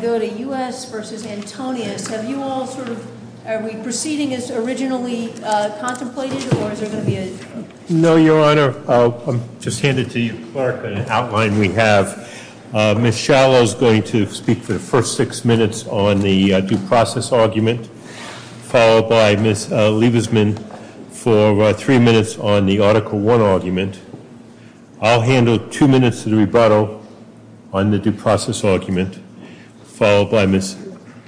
to go to U.S. v. Antonius. Have you all sort of, are we proceeding as originally contemplated or is there going to be a... No, your honor. I'll just hand it to you, Clark, an outline we have. Ms. Shallow is going to speak for the first six minutes on the due process argument followed by Ms. Liebesman for three minutes on the article one argument. I'll handle two rebuttal on the due process argument followed by Ms.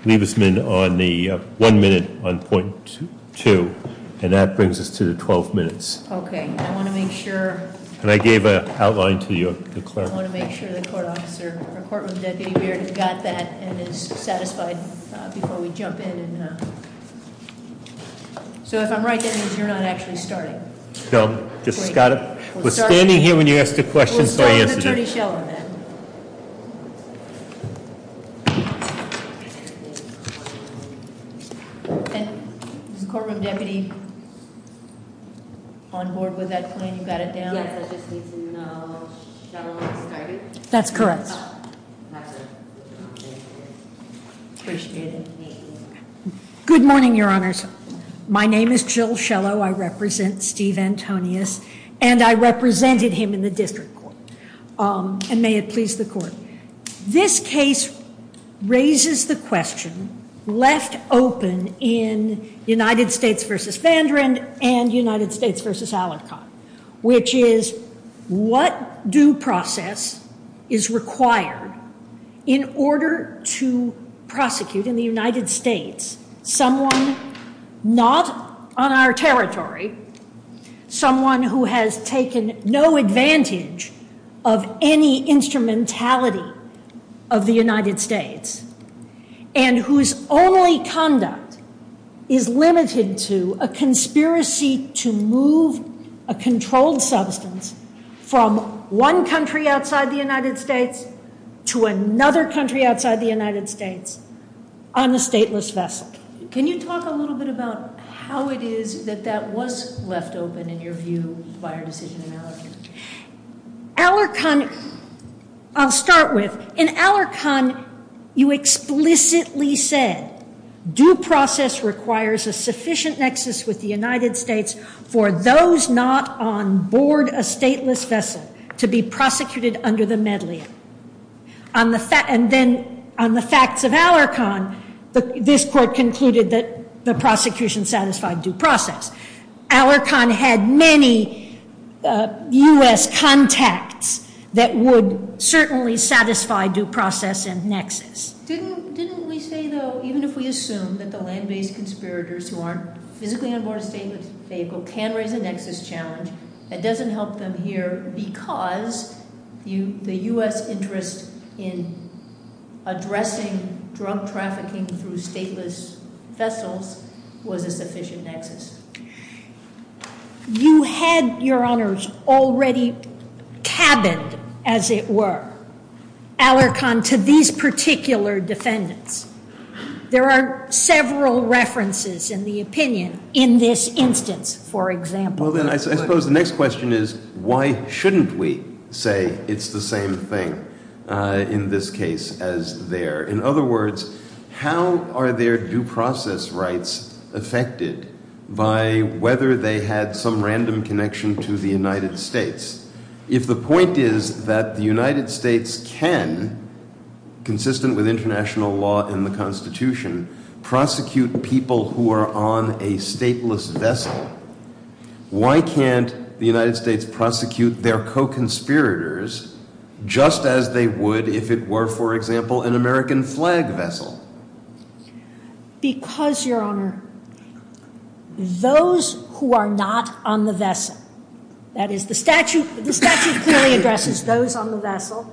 Liebesman on the one minute on point two. And that brings us to the 12 minutes. Okay. I want to make sure... And I gave a outline to you, Clark. I want to make sure the court officer or courtroom deputy, we already got that and is satisfied before we jump in. So if I'm right, that means you're not actually starting. No, I just got it. We're standing here when you asked a question yesterday. We'll start with Attorney Shallow then. And is the courtroom deputy on board with that plan? You got it down? Yes, I just need to know if Shallow has started. That's correct. Good morning, your honors. My name is Jill Shallow. I represent Steve Antonius and I represented him in the district court. And may it please the court. This case raises the question left open in United States v. Vandrand and United States v. Alarcon, which is what due process is required in order to prosecute in the United States someone not on our territory, someone who has taken no advantage of any instrumentality of the United States and whose only conduct is limited to a conspiracy to move a controlled substance from one country outside the United States to another country outside the United States on a stateless vessel. Can you talk a little bit about how it is that that was left open in your view by our decision in Alarcon? Alarcon, I'll start with. In Alarcon, you explicitly said due process requires a sufficient nexus with the United States for those not on board a stateless vessel to be prosecuted under the medley. On the facts of Alarcon, this court concluded that the prosecution satisfied due process. Alarcon had many U.S. contacts that would certainly satisfy due process and nexus. Didn't we say though, even if we assume that the land-based conspirators who aren't physically on board a stateless vehicle can raise a nexus challenge, it doesn't help them here because the U.S. interest in addressing drug trafficking through stateless vessels was a sufficient nexus? You had, Your Honors, already cabined, as it were, Alarcon to these particular defendants. There are several references in the opinion in this instance, for example. I suppose the next question is, why shouldn't we say it's the same thing in this case as there? In other words, how are their due process rights affected by whether they had some random connection to the United States? If the point is that the United States can, consistent with international law and the Constitution, prosecute people who are on a stateless vessel, why can't the United States prosecute their co-conspirators just as they would if it were, for example, an American flag vessel? Because, Your Honor, those who are not on the vessel, that is the statute clearly addresses those on the vessel. It's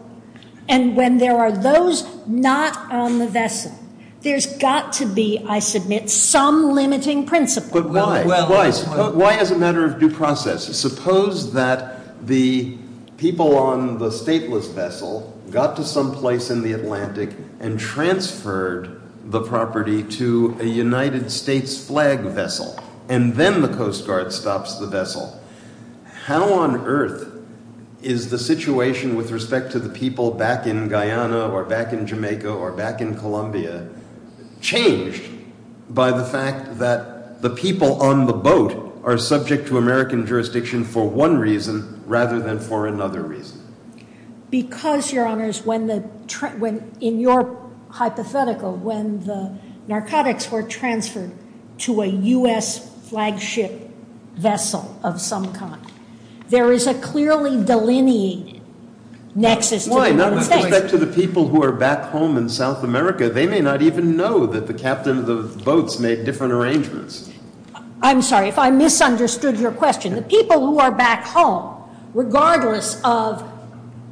got to be, I submit, some limiting principle. But why? Why as a matter of due process? Suppose that the people on the stateless vessel got to some place in the Atlantic and transferred the property to a United States flag vessel and then the Coast Guard stops the vessel. How on earth is the situation with respect to the people back in Guyana or back in Jamaica or back in Columbia changed by the fact that the people on the boat are subject to American jurisdiction for one reason rather than for another reason? Because, Your Honor, in your hypothetical, when the narcotics were transferred to a U.S. flagship vessel of some kind, there is a clearly delineated nexus. Why? Not with respect to the people who are back home in South America. They may not even know that the captain of the boats made different arrangements. I'm sorry if I misunderstood your question. The people who are back home, regardless of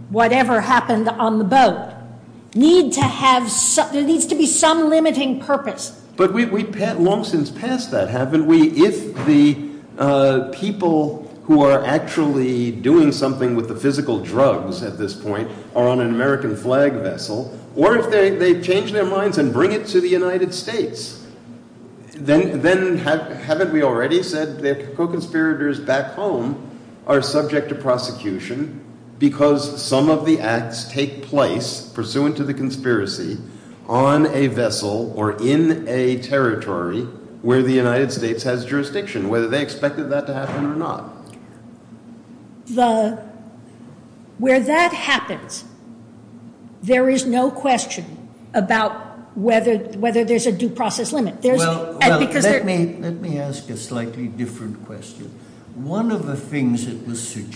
whatever happened on the boat, need to have some, there needs to be some limiting purpose. But we've long since passed that, haven't we? If the people who are actually doing something with the physical drugs at this point are on an American flag vessel, or if they change their minds and bring it to the United States, then haven't we already said that co-conspirators back home are subject to prosecution because some of the acts take place pursuant to the conspiracy on a vessel or in a territory where the United States has jurisdiction, whether they expected that to happen or not? The, where that happens, there is no question about whether, whether there's a due process limit. There's, because there, let me, let me ask a slightly different question. One of the things that was said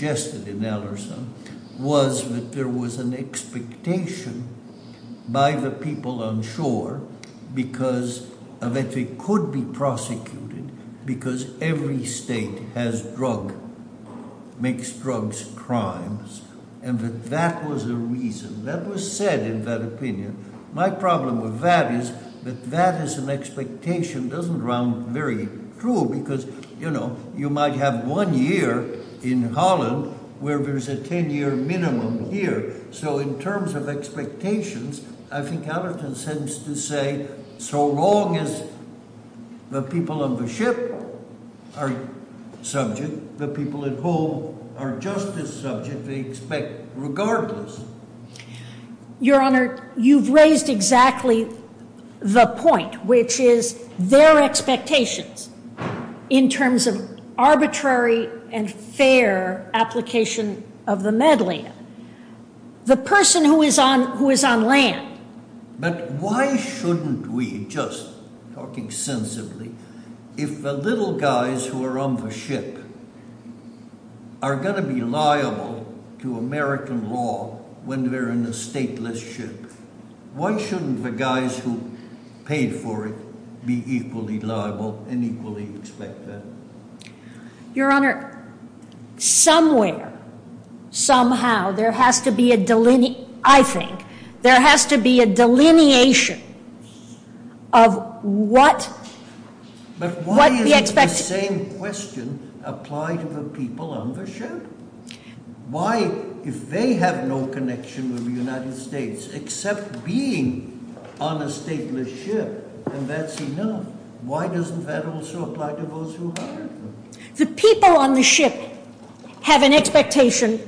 in that opinion, my problem with that is that that is an expectation doesn't round very true because, you know, you might have one year in Holland where there's a 10 year minimum here. So in terms of expectations, I think Allerton seems to say, so long as the people on the ship are subject, the people at home are just as subject, they expect regardless. Your Honor, you've raised exactly the point, which is their expectations in terms of arbitrary and fair application of the medley. The person who is on, who is on land. But why shouldn't we, just talking sensibly, if the little guys who are on the ship are going to be liable to American law when they're in a stateless ship, why shouldn't the guys who paid for it be equally liable and equally expect that? Your Honor, somewhere, somehow, there has to be a delineation, I think, there has to be a delineation of what, what the expectation. The people on the ship have an expectation,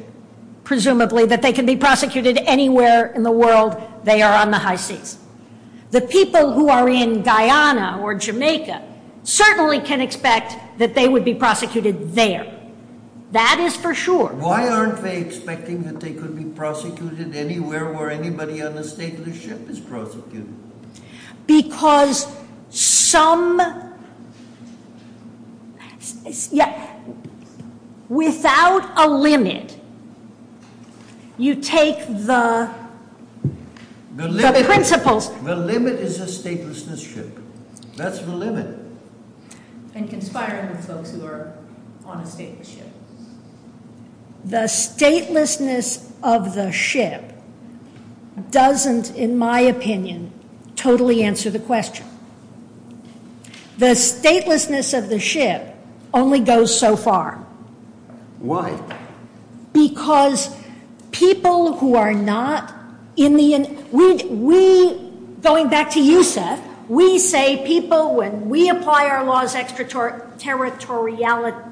presumably, that they can be prosecuted anywhere in the world they are on the high seas. The people who are in Guyana or Jamaica certainly can expect that they would be prosecuted there. That is for sure. Why aren't they expecting that they could be prosecuted anywhere where anybody on a stateless ship is prosecuted? The limit is the statelessness ship. That's the limit. And conspiring with folks who are on a stateless ship. The statelessness of the ship doesn't, in my opinion, totally answer the question. The statelessness of the ship only goes so far. Why? Because people who are not in the, we, going back to you, Seth, we say people, when we apply our laws extraterritorially,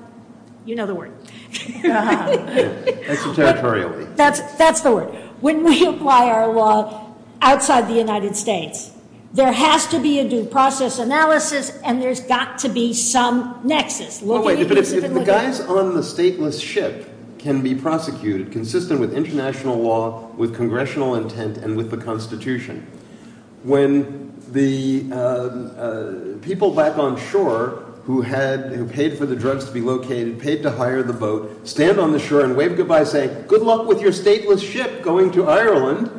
you know the word. Extraterritorially. That's the word. When we apply our law outside the United States, there has to be a due process analysis and there's got to be some nexus. The guys on the stateless ship can be prosecuted consistent with international law, with congressional intent and with the constitution. When the people back on shore who had paid for the drugs to be located, paid to hire the boat, stand on the shore and wave goodbye saying good luck with your stateless ship going to Ireland.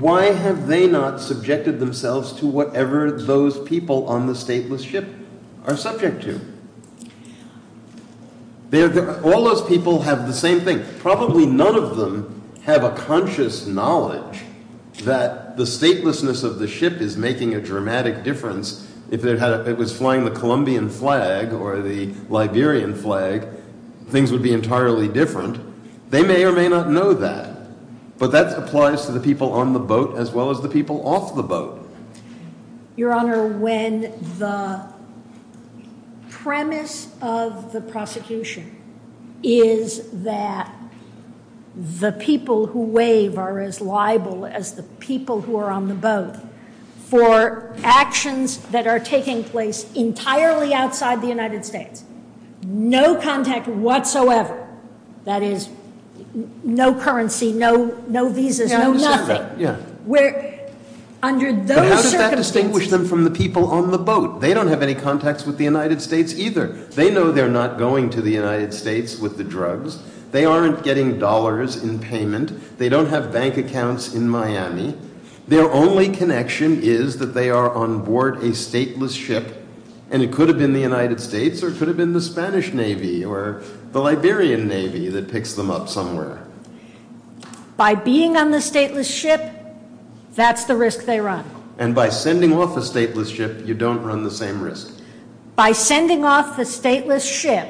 Why have they not subjected themselves to whatever those people on the stateless ship are subject to? All those people have the same thing. Probably none of them have a conscious knowledge that the statelessness of the ship is making a dramatic difference. If it was flying the Colombian flag or the Liberian flag, things would be entirely different. They may or may not know that. But that applies to the people on the boat as well as the people off the boat. Your Honor, when the premise of the prosecution is that the people who wave are as liable as the people who are on the boat, for actions that are taking place entirely outside the United States, no contact whatsoever, that is, no currency, no visas, no nothing, under those circumstances- But how does that distinguish them from the people on the boat? They don't have any contacts with the United States either. They know they're not going to the United States with the drugs. They aren't getting dollars in payment. They don't have bank accounts in Miami. Their only connection is that they are on board a stateless ship and it could have been the United States or it could have been the Spanish Navy or the Liberian Navy that picks them up somewhere. By being on the stateless ship, that's the risk they run. And by sending off the stateless ship, you don't run the same risk. By sending off the stateless ship,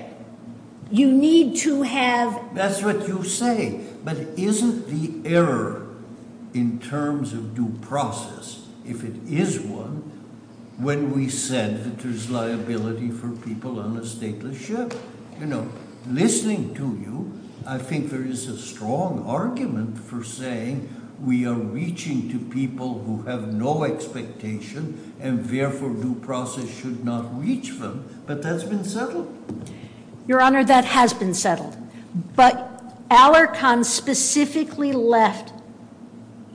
you need to have- That's what you say. But isn't the error in terms of due process, if it is one, when we said that there's liability for people on a stateless ship? You know, listening to you, I think there is a strong argument for saying we are reaching to people who have no expectation and therefore due process should not reach them, but that's been settled. Your Honor, that has been settled. But Alarcon specifically left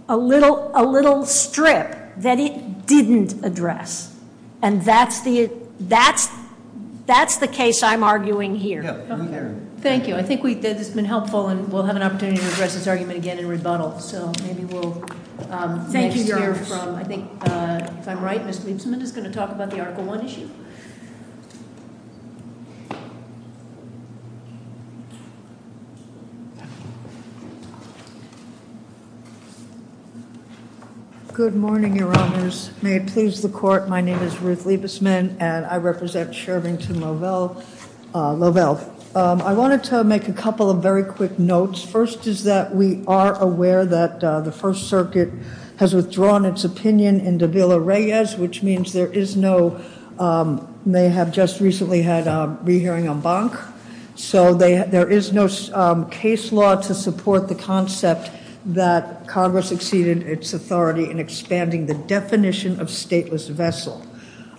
a little strip that it didn't address. And that's the case I'm arguing here. Thank you. I think that has been helpful and we'll have an opportunity to address this argument again in rebuttal. Thank you, Your Honor. If I'm right, Ms. Liebesman is going to talk about the Article I issue. Good morning, Your Honors. May it please the Court, my name is Ruth Liebesman and I represent Shervington-Lovell. I wanted to make a couple of very quick notes. First is that we are aware that the First Circuit has withdrawn its opinion into Villa-Reyes, which means there is no, they have just recently had a re-hearing on Bonk. So there is no case law to support the concept that Congress exceeded its authority in expanding the definition of stateless vessel.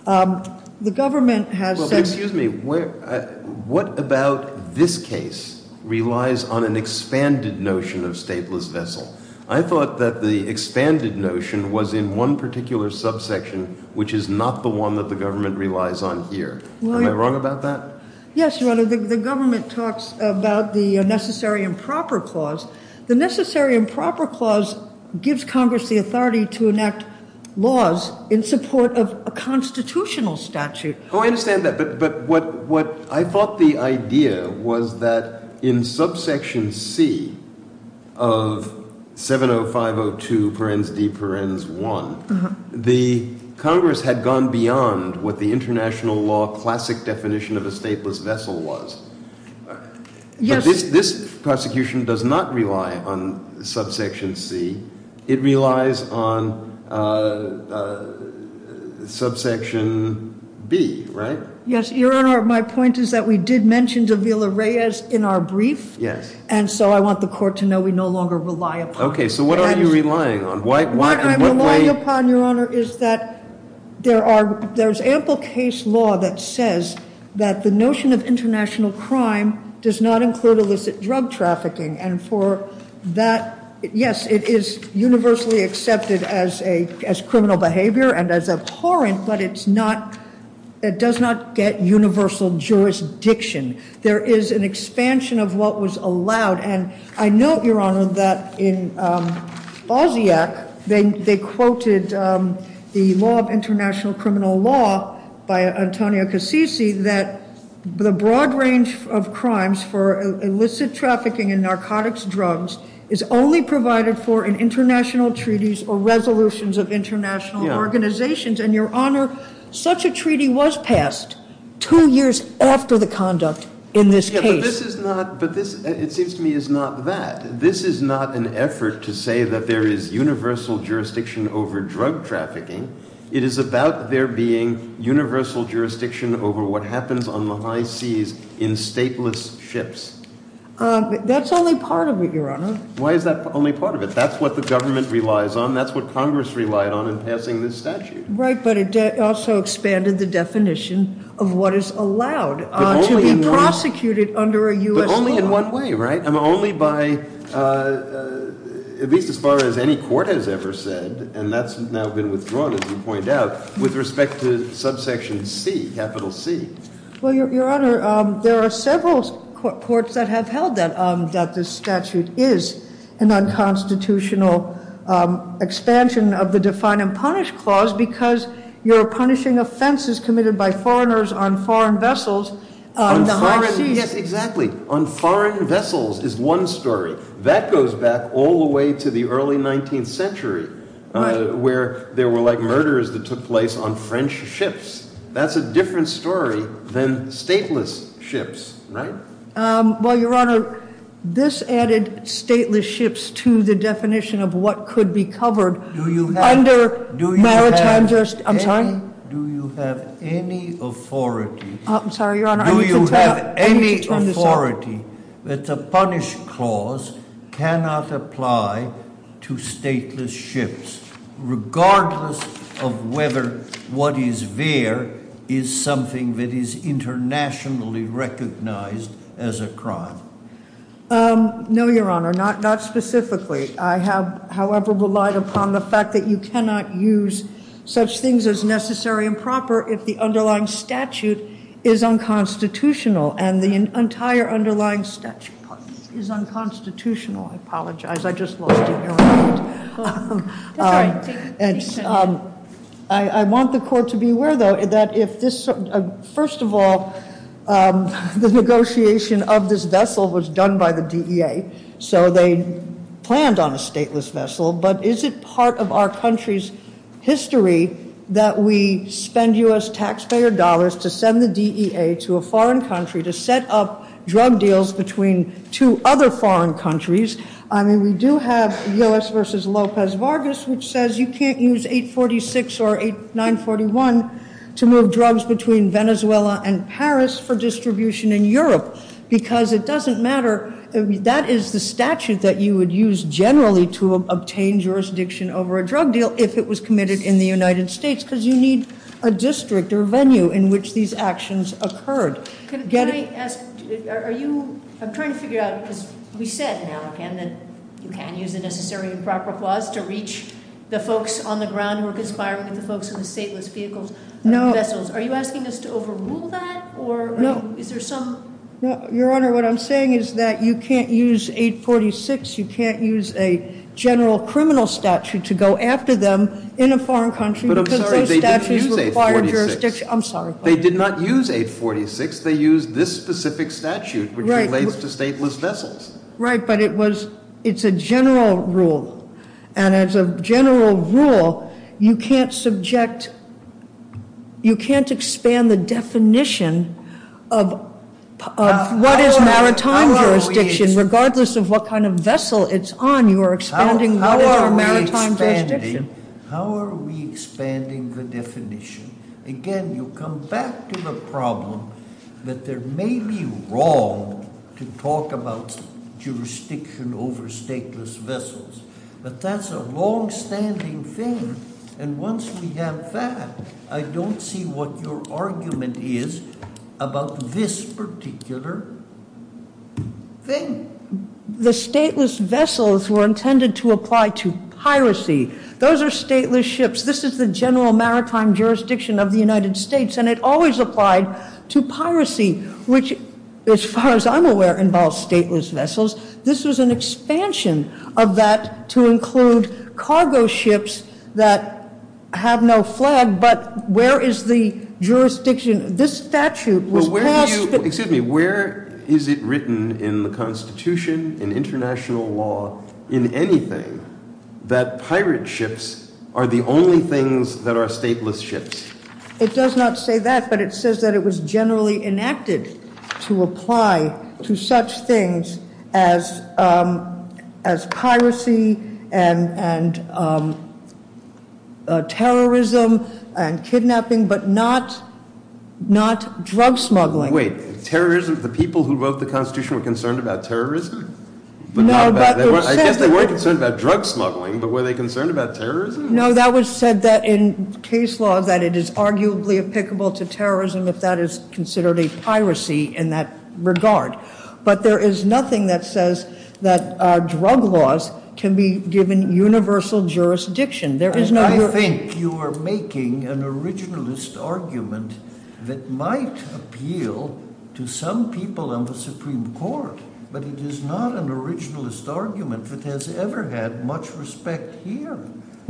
The government has said... Excuse me, what about this case relies on an expanded notion of stateless vessel? I thought that the expanded notion was in one particular subsection, which is not the one that the government relies on here. Am I wrong about that? Yes, Your Honor. The government talks about the Necessary and Proper Clause. The Necessary and Proper Clause gives Congress the authority to enact laws in support of a constitutional statute. Oh, I understand that. But what I thought the idea was that in subsection C of 70502 parens de parens I, the Congress had gone beyond what the international law classic definition of a stateless vessel was. Yes. This prosecution does not rely on subsection C. It relies on subsection B, right? Yes, Your Honor. My point is that we did mention to Villa-Reyes in our brief. Yes. And so I want the court to know we no longer rely upon it. Okay, so what are you relying on? What I'm relying upon, Your Honor, is that there's ample case law that says that the notion of international crime does not include illicit drug trafficking. And for that, yes, it is universally accepted as criminal behavior and as abhorrent, but it does not get universal jurisdiction. There is an expansion of what was allowed. And I note, Your Honor, that in BOSIAC they quoted the law of international criminal law by Antonio Cassisi that the broad range of crimes for illicit trafficking in narcotics drugs is only provided for in international treaties or resolutions of international organizations. And, Your Honor, such a treaty was passed two years after the conduct in this case. But this is not – but this, it seems to me, is not that. This is not an effort to say that there is universal jurisdiction over drug trafficking. It is about there being universal jurisdiction over what happens on the high seas in stateless ships. That's only part of it, Your Honor. Why is that only part of it? That's what the government relies on. That's what Congress relied on in passing this statute. Right, but it also expanded the definition of what is allowed to be prosecuted under a U.S. law. But only in one way, right? Only by – at least as far as any court has ever said, and that's now been withdrawn, as you point out, with respect to subsection C, capital C. Well, Your Honor, there are several courts that have held that this statute is an unconstitutional expansion of the define and punish clause because you're punishing offenses committed by foreigners on foreign vessels on the high seas. Yes, exactly. On foreign vessels is one story. That goes back all the way to the early 19th century where there were, like, murders that took place on French ships. That's a different story than stateless ships, right? Well, Your Honor, this added stateless ships to the definition of what could be covered under maritime jurisdiction. I'm sorry? Do you have any authority? I'm sorry, Your Honor. Do you have any authority that the punish clause cannot apply to stateless ships, regardless of whether what is there is something that is internationally recognized as a crime? No, Your Honor, not specifically. I have, however, relied upon the fact that you cannot use such things as necessary and proper if the underlying statute is unconstitutional, and the entire underlying statute is unconstitutional. I apologize. I just lost you there. I want the court to be aware, though, that if this, first of all, the negotiation of this vessel was done by the DEA, so they planned on a stateless vessel, but is it part of our country's history that we spend U.S. taxpayer dollars to send the DEA to a foreign country to set up drug deals between two other foreign countries? I mean, we do have U.S. v. Lopez Vargas, which says you can't use 846 or 941 to move drugs between Venezuela and Paris for distribution in Europe, because it doesn't matter. That is the statute that you would use generally to obtain jurisdiction over a drug deal if it was committed in the United States, because you need a district or venue in which these actions occurred. Can I ask, are you, I'm trying to figure out, because we said now, again, that you can't use the necessary and proper clause to reach the folks on the ground who are conspiring with the folks in the stateless vehicles, vessels. No. Are you asking us to overrule that, or is there some? No. Your Honor, what I'm saying is that you can't use 846. You can't use a general criminal statute to go after them in a foreign country because those statutes require jurisdiction. But I'm sorry. They did use 846. I'm sorry. In 846, they used this specific statute, which relates to stateless vessels. Right, but it was, it's a general rule. And as a general rule, you can't subject, you can't expand the definition of what is maritime jurisdiction, regardless of what kind of vessel it's on, you're expanding what is a maritime jurisdiction. How are we expanding the definition? Again, you come back to the problem that there may be wrong to talk about jurisdiction over stateless vessels. But that's a longstanding thing. And once we have that, I don't see what your argument is about this particular thing. The stateless vessels were intended to apply to piracy. Those are stateless ships. This is the general maritime jurisdiction of the United States. And it always applied to piracy, which, as far as I'm aware, involves stateless vessels. This was an expansion of that to include cargo ships that have no flag. But where is the jurisdiction? This statute was passed. Excuse me, where is it written in the Constitution, in international law, in anything, that pirate ships are the only things that are stateless ships? It does not say that, but it says that it was generally enacted to apply to such things as piracy and terrorism and kidnapping, but not drug smuggling. Wait, terrorism? The people who wrote the Constitution were concerned about terrorism? I guess they weren't concerned about drug smuggling, but were they concerned about terrorism? No, that was said in case law that it is arguably applicable to terrorism if that is considered a piracy in that regard. But there is nothing that says that drug laws can be given universal jurisdiction. I think you are making an originalist argument that might appeal to some people on the Supreme Court, but it is not an originalist argument that has ever had much respect here.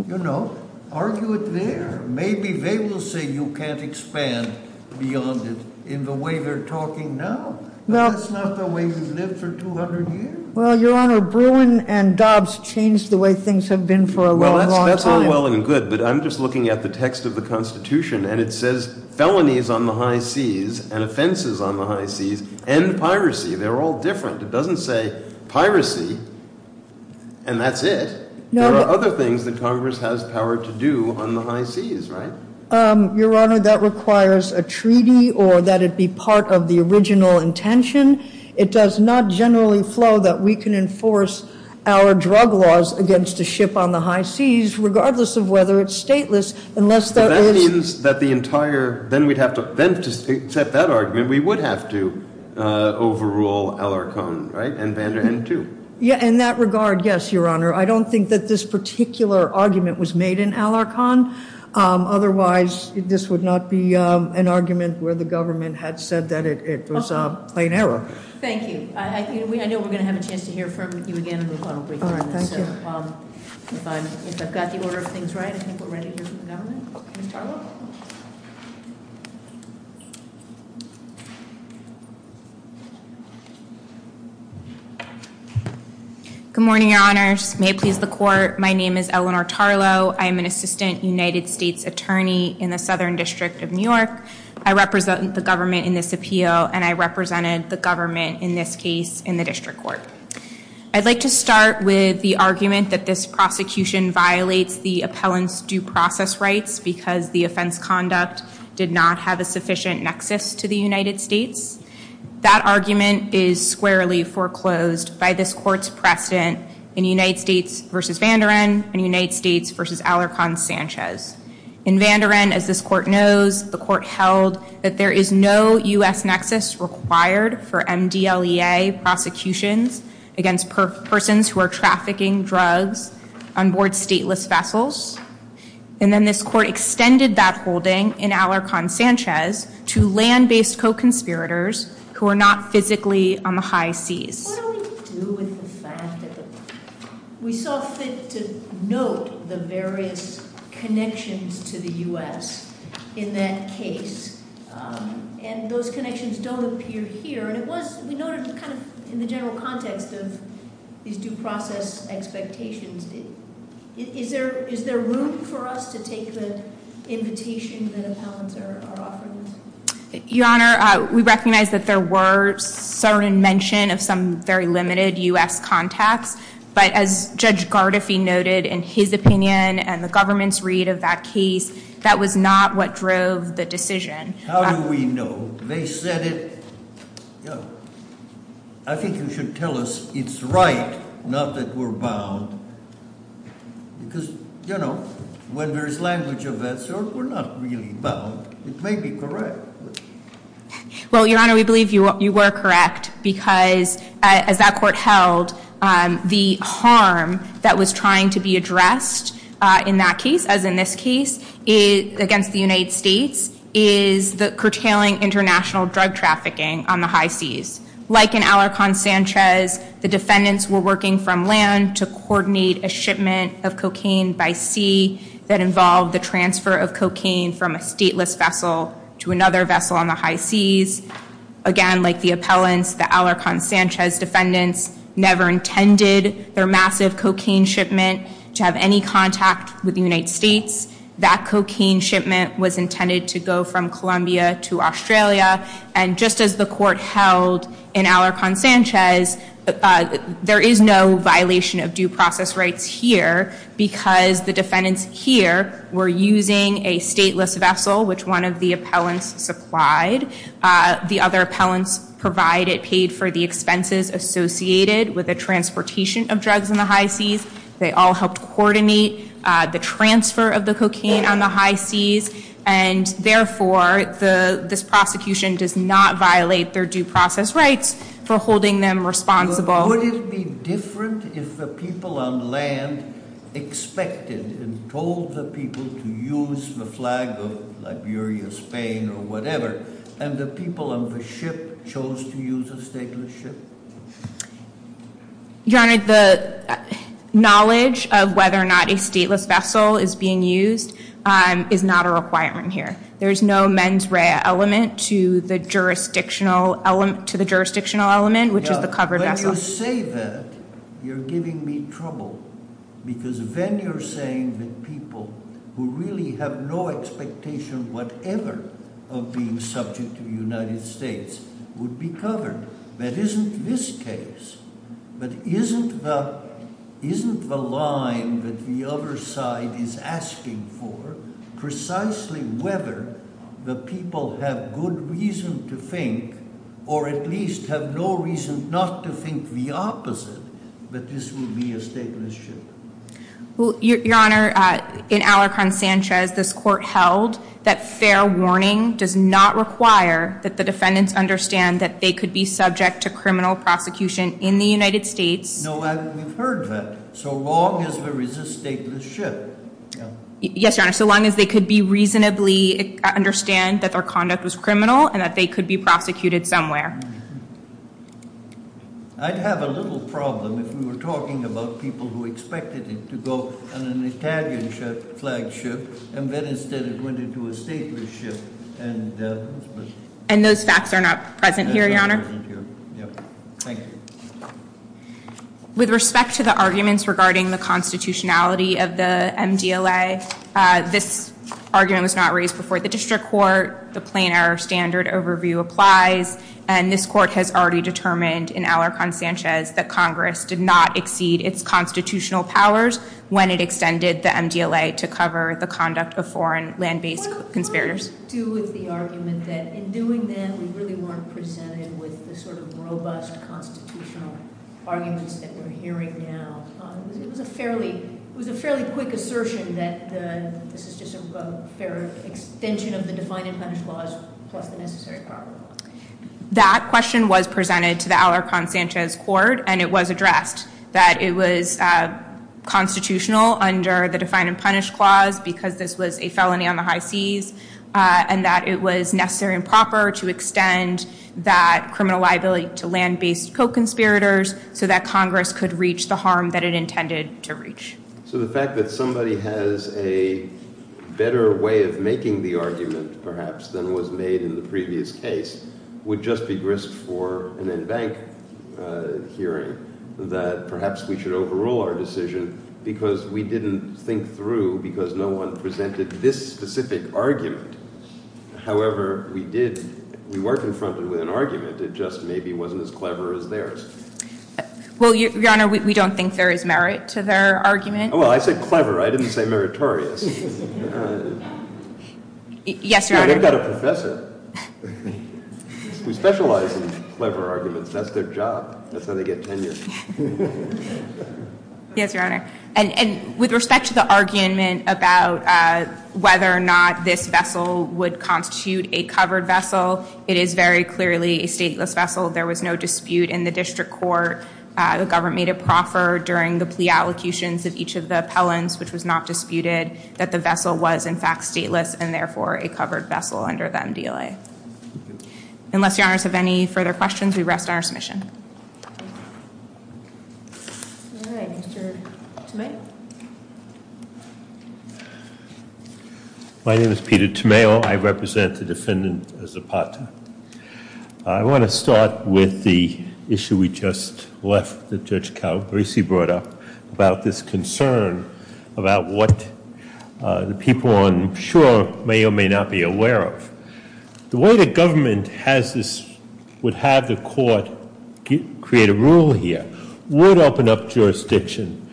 You know, argue it there. Maybe they will say you can't expand beyond it in the way they're talking now. But that's not the way we've lived for 200 years. Well, Your Honor, Bruin and Dobbs changed the way things have been for a long, long time. Well, that's all well and good, but I'm just looking at the text of the Constitution, and it says felonies on the high seas and offenses on the high seas and piracy. They're all different. It doesn't say piracy and that's it. There are other things that Congress has power to do on the high seas, right? Your Honor, that requires a treaty or that it be part of the original intention. It does not generally flow that we can enforce our drug laws against a ship on the high seas, regardless of whether it's stateless, unless there is – But that means that the entire – then we'd have to – then to accept that argument, we would have to overrule Alarcon, right, and Vanderhen too. Yeah, in that regard, yes, Your Honor. I don't think that this particular argument was made in Alarcon. Otherwise, this would not be an argument where the government had said that it was a plain error. Thank you. I know we're going to have a chance to hear from you again in the final briefing. Thank you. If I've got the order of things right, I think we're ready to hear from the government. Ms. Tarlow? Good morning, Your Honor. May it please the Court, my name is Eleanor Tarlow. I am an assistant United States attorney in the Southern District of New York. I represent the government in this appeal, and I represented the government in this case in the district court. I'd like to start with the argument that this prosecution violates the appellant's due process rights because the offense conduct did not have a sufficient nexus to the United States. That argument is squarely foreclosed by this court's precedent in United States v. Vanderhen and United States v. Alarcon-Sanchez. In Vanderhen, as this court knows, the court held that there is no U.S. nexus required for MDLEA prosecutions against persons who are trafficking drugs on board stateless vessels. And then this court extended that holding in Alarcon-Sanchez to land-based co-conspirators who are not physically on the high seas. What do we do with the fact that we saw fit to note the various connections to the U.S. in that case, and those connections don't appear here? And it was noted kind of in the general context of these due process expectations. Is there room for us to take the invitation that appellants are offering us? Your Honor, we recognize that there were certain mentions of some very limited U.S. contacts, but as Judge Gardefee noted in his opinion and the government's read of that case, that was not what drove the decision. How do we know? They said it. I think you should tell us it's right, not that we're bound, because, you know, when there's language of that sort, we're not really bound. It may be correct. Well, Your Honor, we believe you were correct because, as that court held, the harm that was trying to be addressed in that case, as in this case, against the United States, is the curtailing international drug trafficking on the high seas. Like in Alarcon-Sanchez, the defendants were working from land to coordinate a shipment of cocaine by sea that involved the transfer of cocaine from a stateless vessel to another vessel on the high seas. Again, like the appellants, the Alarcon-Sanchez defendants never intended their massive cocaine shipment to have any contact with the United States. That cocaine shipment was intended to go from Colombia to Australia, and just as the court held in Alarcon-Sanchez, there is no violation of due process rights here because the defendants here were using a stateless vessel, which one of the appellants supplied. The other appellants provided, paid for the expenses associated with the transportation of drugs on the high seas. They all helped coordinate the transfer of the cocaine on the high seas, and therefore, this prosecution does not violate their due process rights for holding them responsible. Would it be different if the people on land expected and told the people to use the flag of Liberia, Spain, or whatever, and the people on the ship chose to use a stateless ship? Your Honor, the knowledge of whether or not a stateless vessel is being used is not a requirement here. There is no mens rea element to the jurisdictional element, which is the covered vessel. When you say that, you're giving me trouble because then you're saying that people who really have no expectation whatever of being subject to the United States would be covered. That isn't this case. But isn't the line that the other side is asking for precisely whether the people have good reason to think or at least have no reason not to think the opposite, that this would be a stateless ship? Well, Your Honor, in Alarcon Sanchez, this court held that fair warning does not require that the defendants understand that they could be subject to criminal prosecution in the United States. No, we've heard that. So long as there is a stateless ship. Yes, Your Honor, so long as they could reasonably understand that their conduct was criminal and that they could be prosecuted somewhere. I'd have a little problem if we were talking about people who expected it to go on an Italian flag ship and then instead it went into a stateless ship. And those facts are not present here, Your Honor. Thank you. With respect to the arguments regarding the constitutionality of the MDLA, this argument was not raised before the district court. The plain error standard overview applies. And this court has already determined in Alarcon Sanchez that Congress did not exceed its constitutional powers when it extended the MDLA to cover the conduct of foreign land-based conspirators. What does that have to do with the argument that in doing that we really weren't presented with the sort of robust constitutional arguments that we're hearing now? It was a fairly quick assertion that this is just a fair extension of the define-and-punish laws plus the necessary power. That question was presented to the Alarcon Sanchez court, and it was addressed, that it was constitutional under the define-and-punish clause because this was a felony on the high seas and that it was necessary and proper to extend that criminal liability to land-based co-conspirators so that Congress could reach the harm that it intended to reach. So the fact that somebody has a better way of making the argument, perhaps, than was made in the previous case would just be grist for an in-bank hearing that perhaps we should overrule our decision because we didn't think through because no one presented this specific argument. However, we were confronted with an argument. It just maybe wasn't as clever as theirs. Well, Your Honor, we don't think there is merit to their argument. Oh, well, I said clever. I didn't say meritorious. Yes, Your Honor. Yeah, they've got a professor who specializes in clever arguments. That's their job. That's how they get tenure. Yes, Your Honor. And with respect to the argument about whether or not this vessel would constitute a covered vessel, it is very clearly a stateless vessel. There was no dispute in the district court. The government made a proffer during the plea allocutions of each of the appellants, which was not disputed that the vessel was, in fact, stateless and, therefore, a covered vessel under the MDLA. Unless Your Honors have any further questions, we rest on our submission. All right. Mr. Tomeo? My name is Peter Tomeo. I represent the defendant, Zapata. I want to start with the issue we just left that Judge Calabresi brought up about this concern about what the people on shore may or may not be aware of. The way the government would have the court create a rule here would open up jurisdiction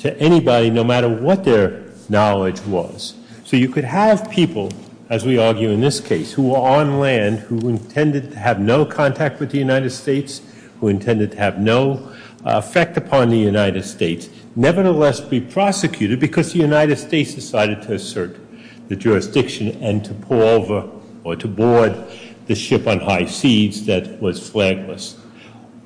to anybody, no matter what their knowledge was. So you could have people, as we argue in this case, who were on land, who intended to have no contact with the United States, who intended to have no effect upon the United States, nevertheless be prosecuted because the United States decided to assert the jurisdiction and to pull over or to board the ship on high seas that was flagless.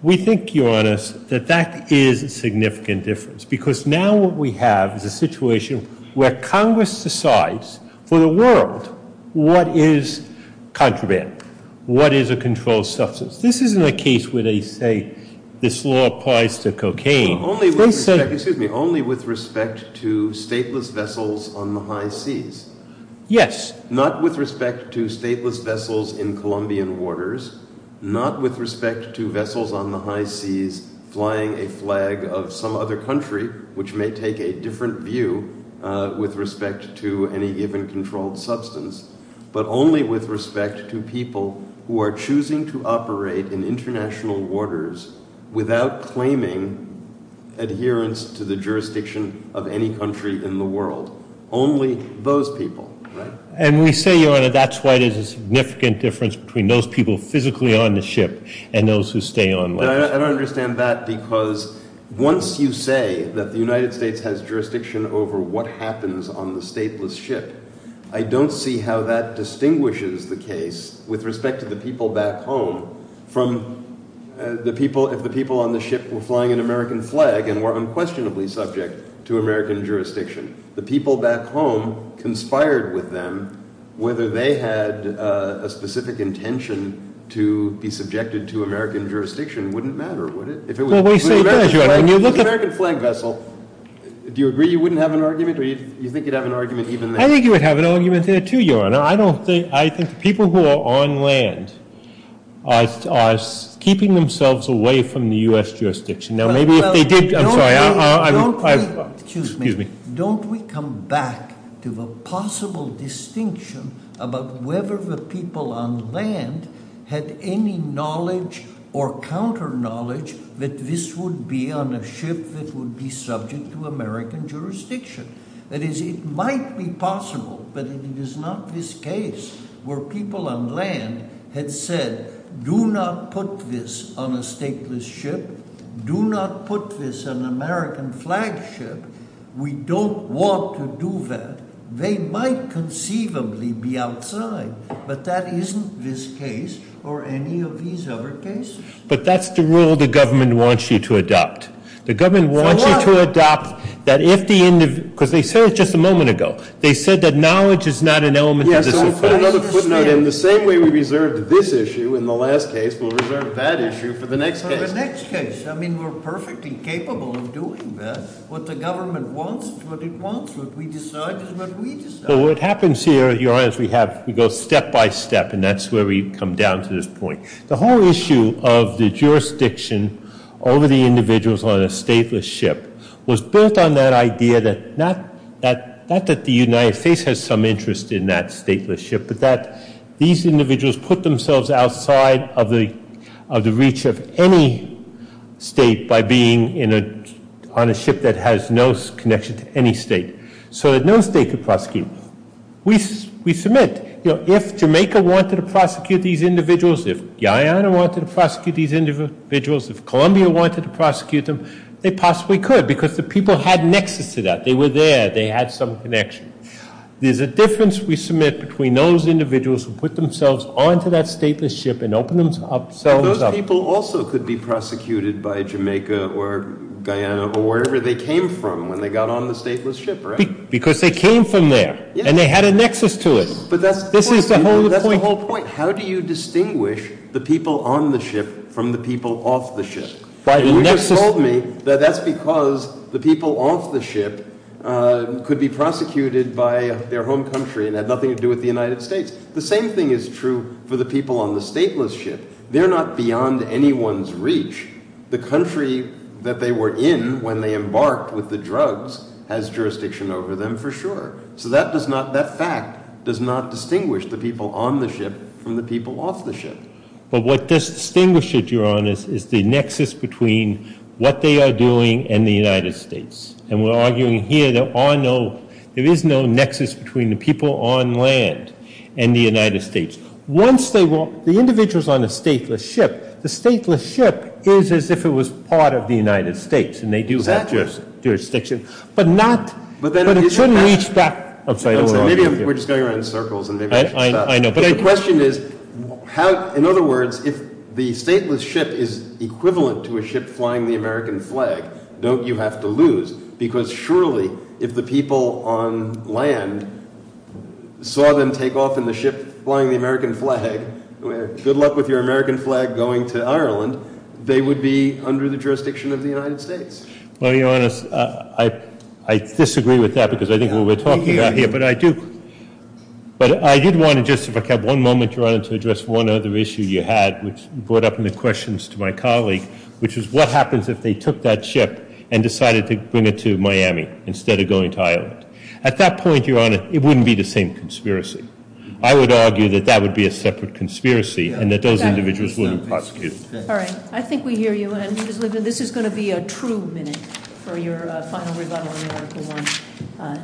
We think, Your Honors, that that is a significant difference because now what we have is a situation where Congress decides for the world what is contraband, what is a controlled substance. This isn't a case where they say this law applies to cocaine. Only with respect to stateless vessels on the high seas. Yes. Not with respect to stateless vessels in Colombian waters, not with respect to vessels on the high seas flying a flag of some other country, which may take a different view with respect to any given controlled substance, but only with respect to people who are choosing to operate in international waters without claiming adherence to the jurisdiction of any country in the world. Only those people. And we say, Your Honor, that's why there's a significant difference between those people physically on the ship and those who stay on land. I don't understand that because once you say that the United States has jurisdiction over what happens on the stateless ship, I don't see how that distinguishes the case with respect to the people back home from if the people on the ship were flying an American flag and were unquestionably subject to American jurisdiction. The people back home conspired with them. Whether they had a specific intention to be subjected to American jurisdiction wouldn't matter, would it? Well, we say it does, Your Honor. If it was an American flag vessel, do you agree you wouldn't have an argument or do you think you'd have an argument even then? I think you would have an argument there, too, Your Honor. I think the people who are on land are keeping themselves away from the U.S. jurisdiction. Don't we come back to the possible distinction about whether the people on land had any knowledge or counter knowledge that this would be on a ship that would be subject to American jurisdiction? That is, it might be possible, but it is not this case where people on land had said, Do not put this on a stateless ship. Do not put this on an American flagship. We don't want to do that. They might conceivably be outside, but that isn't this case or any of these other cases. But that's the rule the government wants you to adopt. For what? The government wants you to adopt that if the individual, because they said it just a moment ago. They said that knowledge is not an element of this offense. Yes, so we'll put another footnote in. The same way we reserved this issue in the last case, we'll reserve that issue for the next case. For the next case. I mean, we're perfectly capable of doing that. What the government wants is what it wants. What we decide is what we decide. Well, what happens here, Your Honor, is we go step by step, and that's where we come down to this point. The whole issue of the jurisdiction over the individuals on a stateless ship was built on that idea that not that the United States has some interest in that stateless ship, but that these individuals put themselves outside of the reach of any state by being on a ship that has no connection to any state. So that no state could prosecute them. We submit, you know, if Jamaica wanted to prosecute these individuals, if Guyana wanted to prosecute these individuals, if Columbia wanted to prosecute them, they possibly could because the people had nexus to that. They were there. They had some connection. There's a difference we submit between those individuals who put themselves onto that stateless ship and opened themselves up. But those people also could be prosecuted by Jamaica or Guyana or wherever they came from when they got on the stateless ship, right? Because they came from there, and they had a nexus to it. But that's the whole point. How do you distinguish the people on the ship from the people off the ship? You just told me that that's because the people off the ship could be prosecuted by their home country and had nothing to do with the United States. The same thing is true for the people on the stateless ship. They're not beyond anyone's reach. The country that they were in when they embarked with the drugs has jurisdiction over them for sure. So that fact does not distinguish the people on the ship from the people off the ship. But what does distinguish it, Your Honor, is the nexus between what they are doing and the United States. And we're arguing here there is no nexus between the people on land and the United States. Once they were the individuals on a stateless ship, the stateless ship is as if it was part of the United States, and they do have jurisdiction. But it shouldn't reach that. Maybe we're just going around in circles. I know. But the question is, in other words, if the stateless ship is equivalent to a ship flying the American flag, don't you have to lose? Because surely if the people on land saw them take off in the ship flying the American flag, good luck with your American flag going to Ireland, they would be under the jurisdiction of the United States. Well, Your Honor, I disagree with that because I think what we're talking about here, but I do want to just, if I could have one moment, Your Honor, to address one other issue you had, which brought up in the questions to my colleague, which is what happens if they took that ship and decided to bring it to Miami instead of going to Ireland. At that point, Your Honor, it wouldn't be the same conspiracy. I would argue that that would be a separate conspiracy and that those individuals wouldn't prosecute. All right. I think we hear you. This is going to be a true minute for your final rebuttal on Article I.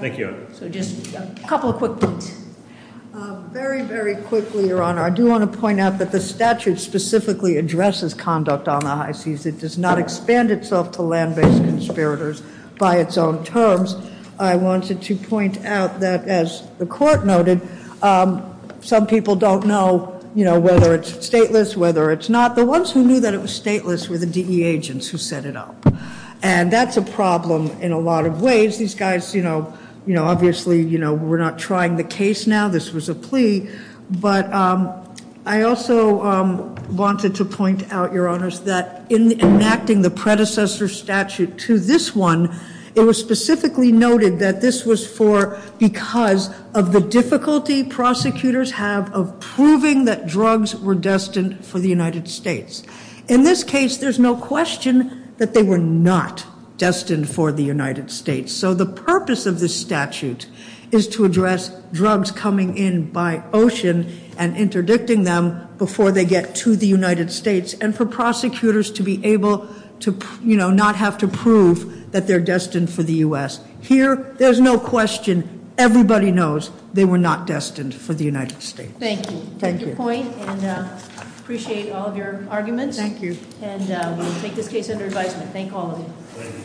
Thank you, Your Honor. So just a couple of quick points. Very, very quickly, Your Honor, I do want to point out that the statute specifically addresses conduct on the high seas. It does not expand itself to land-based conspirators by its own terms. I wanted to point out that, as the court noted, some people don't know whether it's stateless, whether it's not. The ones who knew that it was stateless were the DE agents who set it up. And that's a problem in a lot of ways. These guys, you know, obviously, you know, we're not trying the case now. This was a plea. But I also wanted to point out, Your Honors, that in enacting the predecessor statute to this one, it was specifically noted that this was for because of the difficulty prosecutors have of proving that drugs were destined for the United States. In this case, there's no question that they were not destined for the United States. So the purpose of this statute is to address drugs coming in by ocean and interdicting them before they get to the United States and for prosecutors to be able to, you know, not have to prove that they're destined for the U.S. Here, there's no question. Everybody knows they were not destined for the United States. Thank you. Thank you. I appreciate all of your arguments. Thank you. And we'll take this case under advisement. Thank all of you.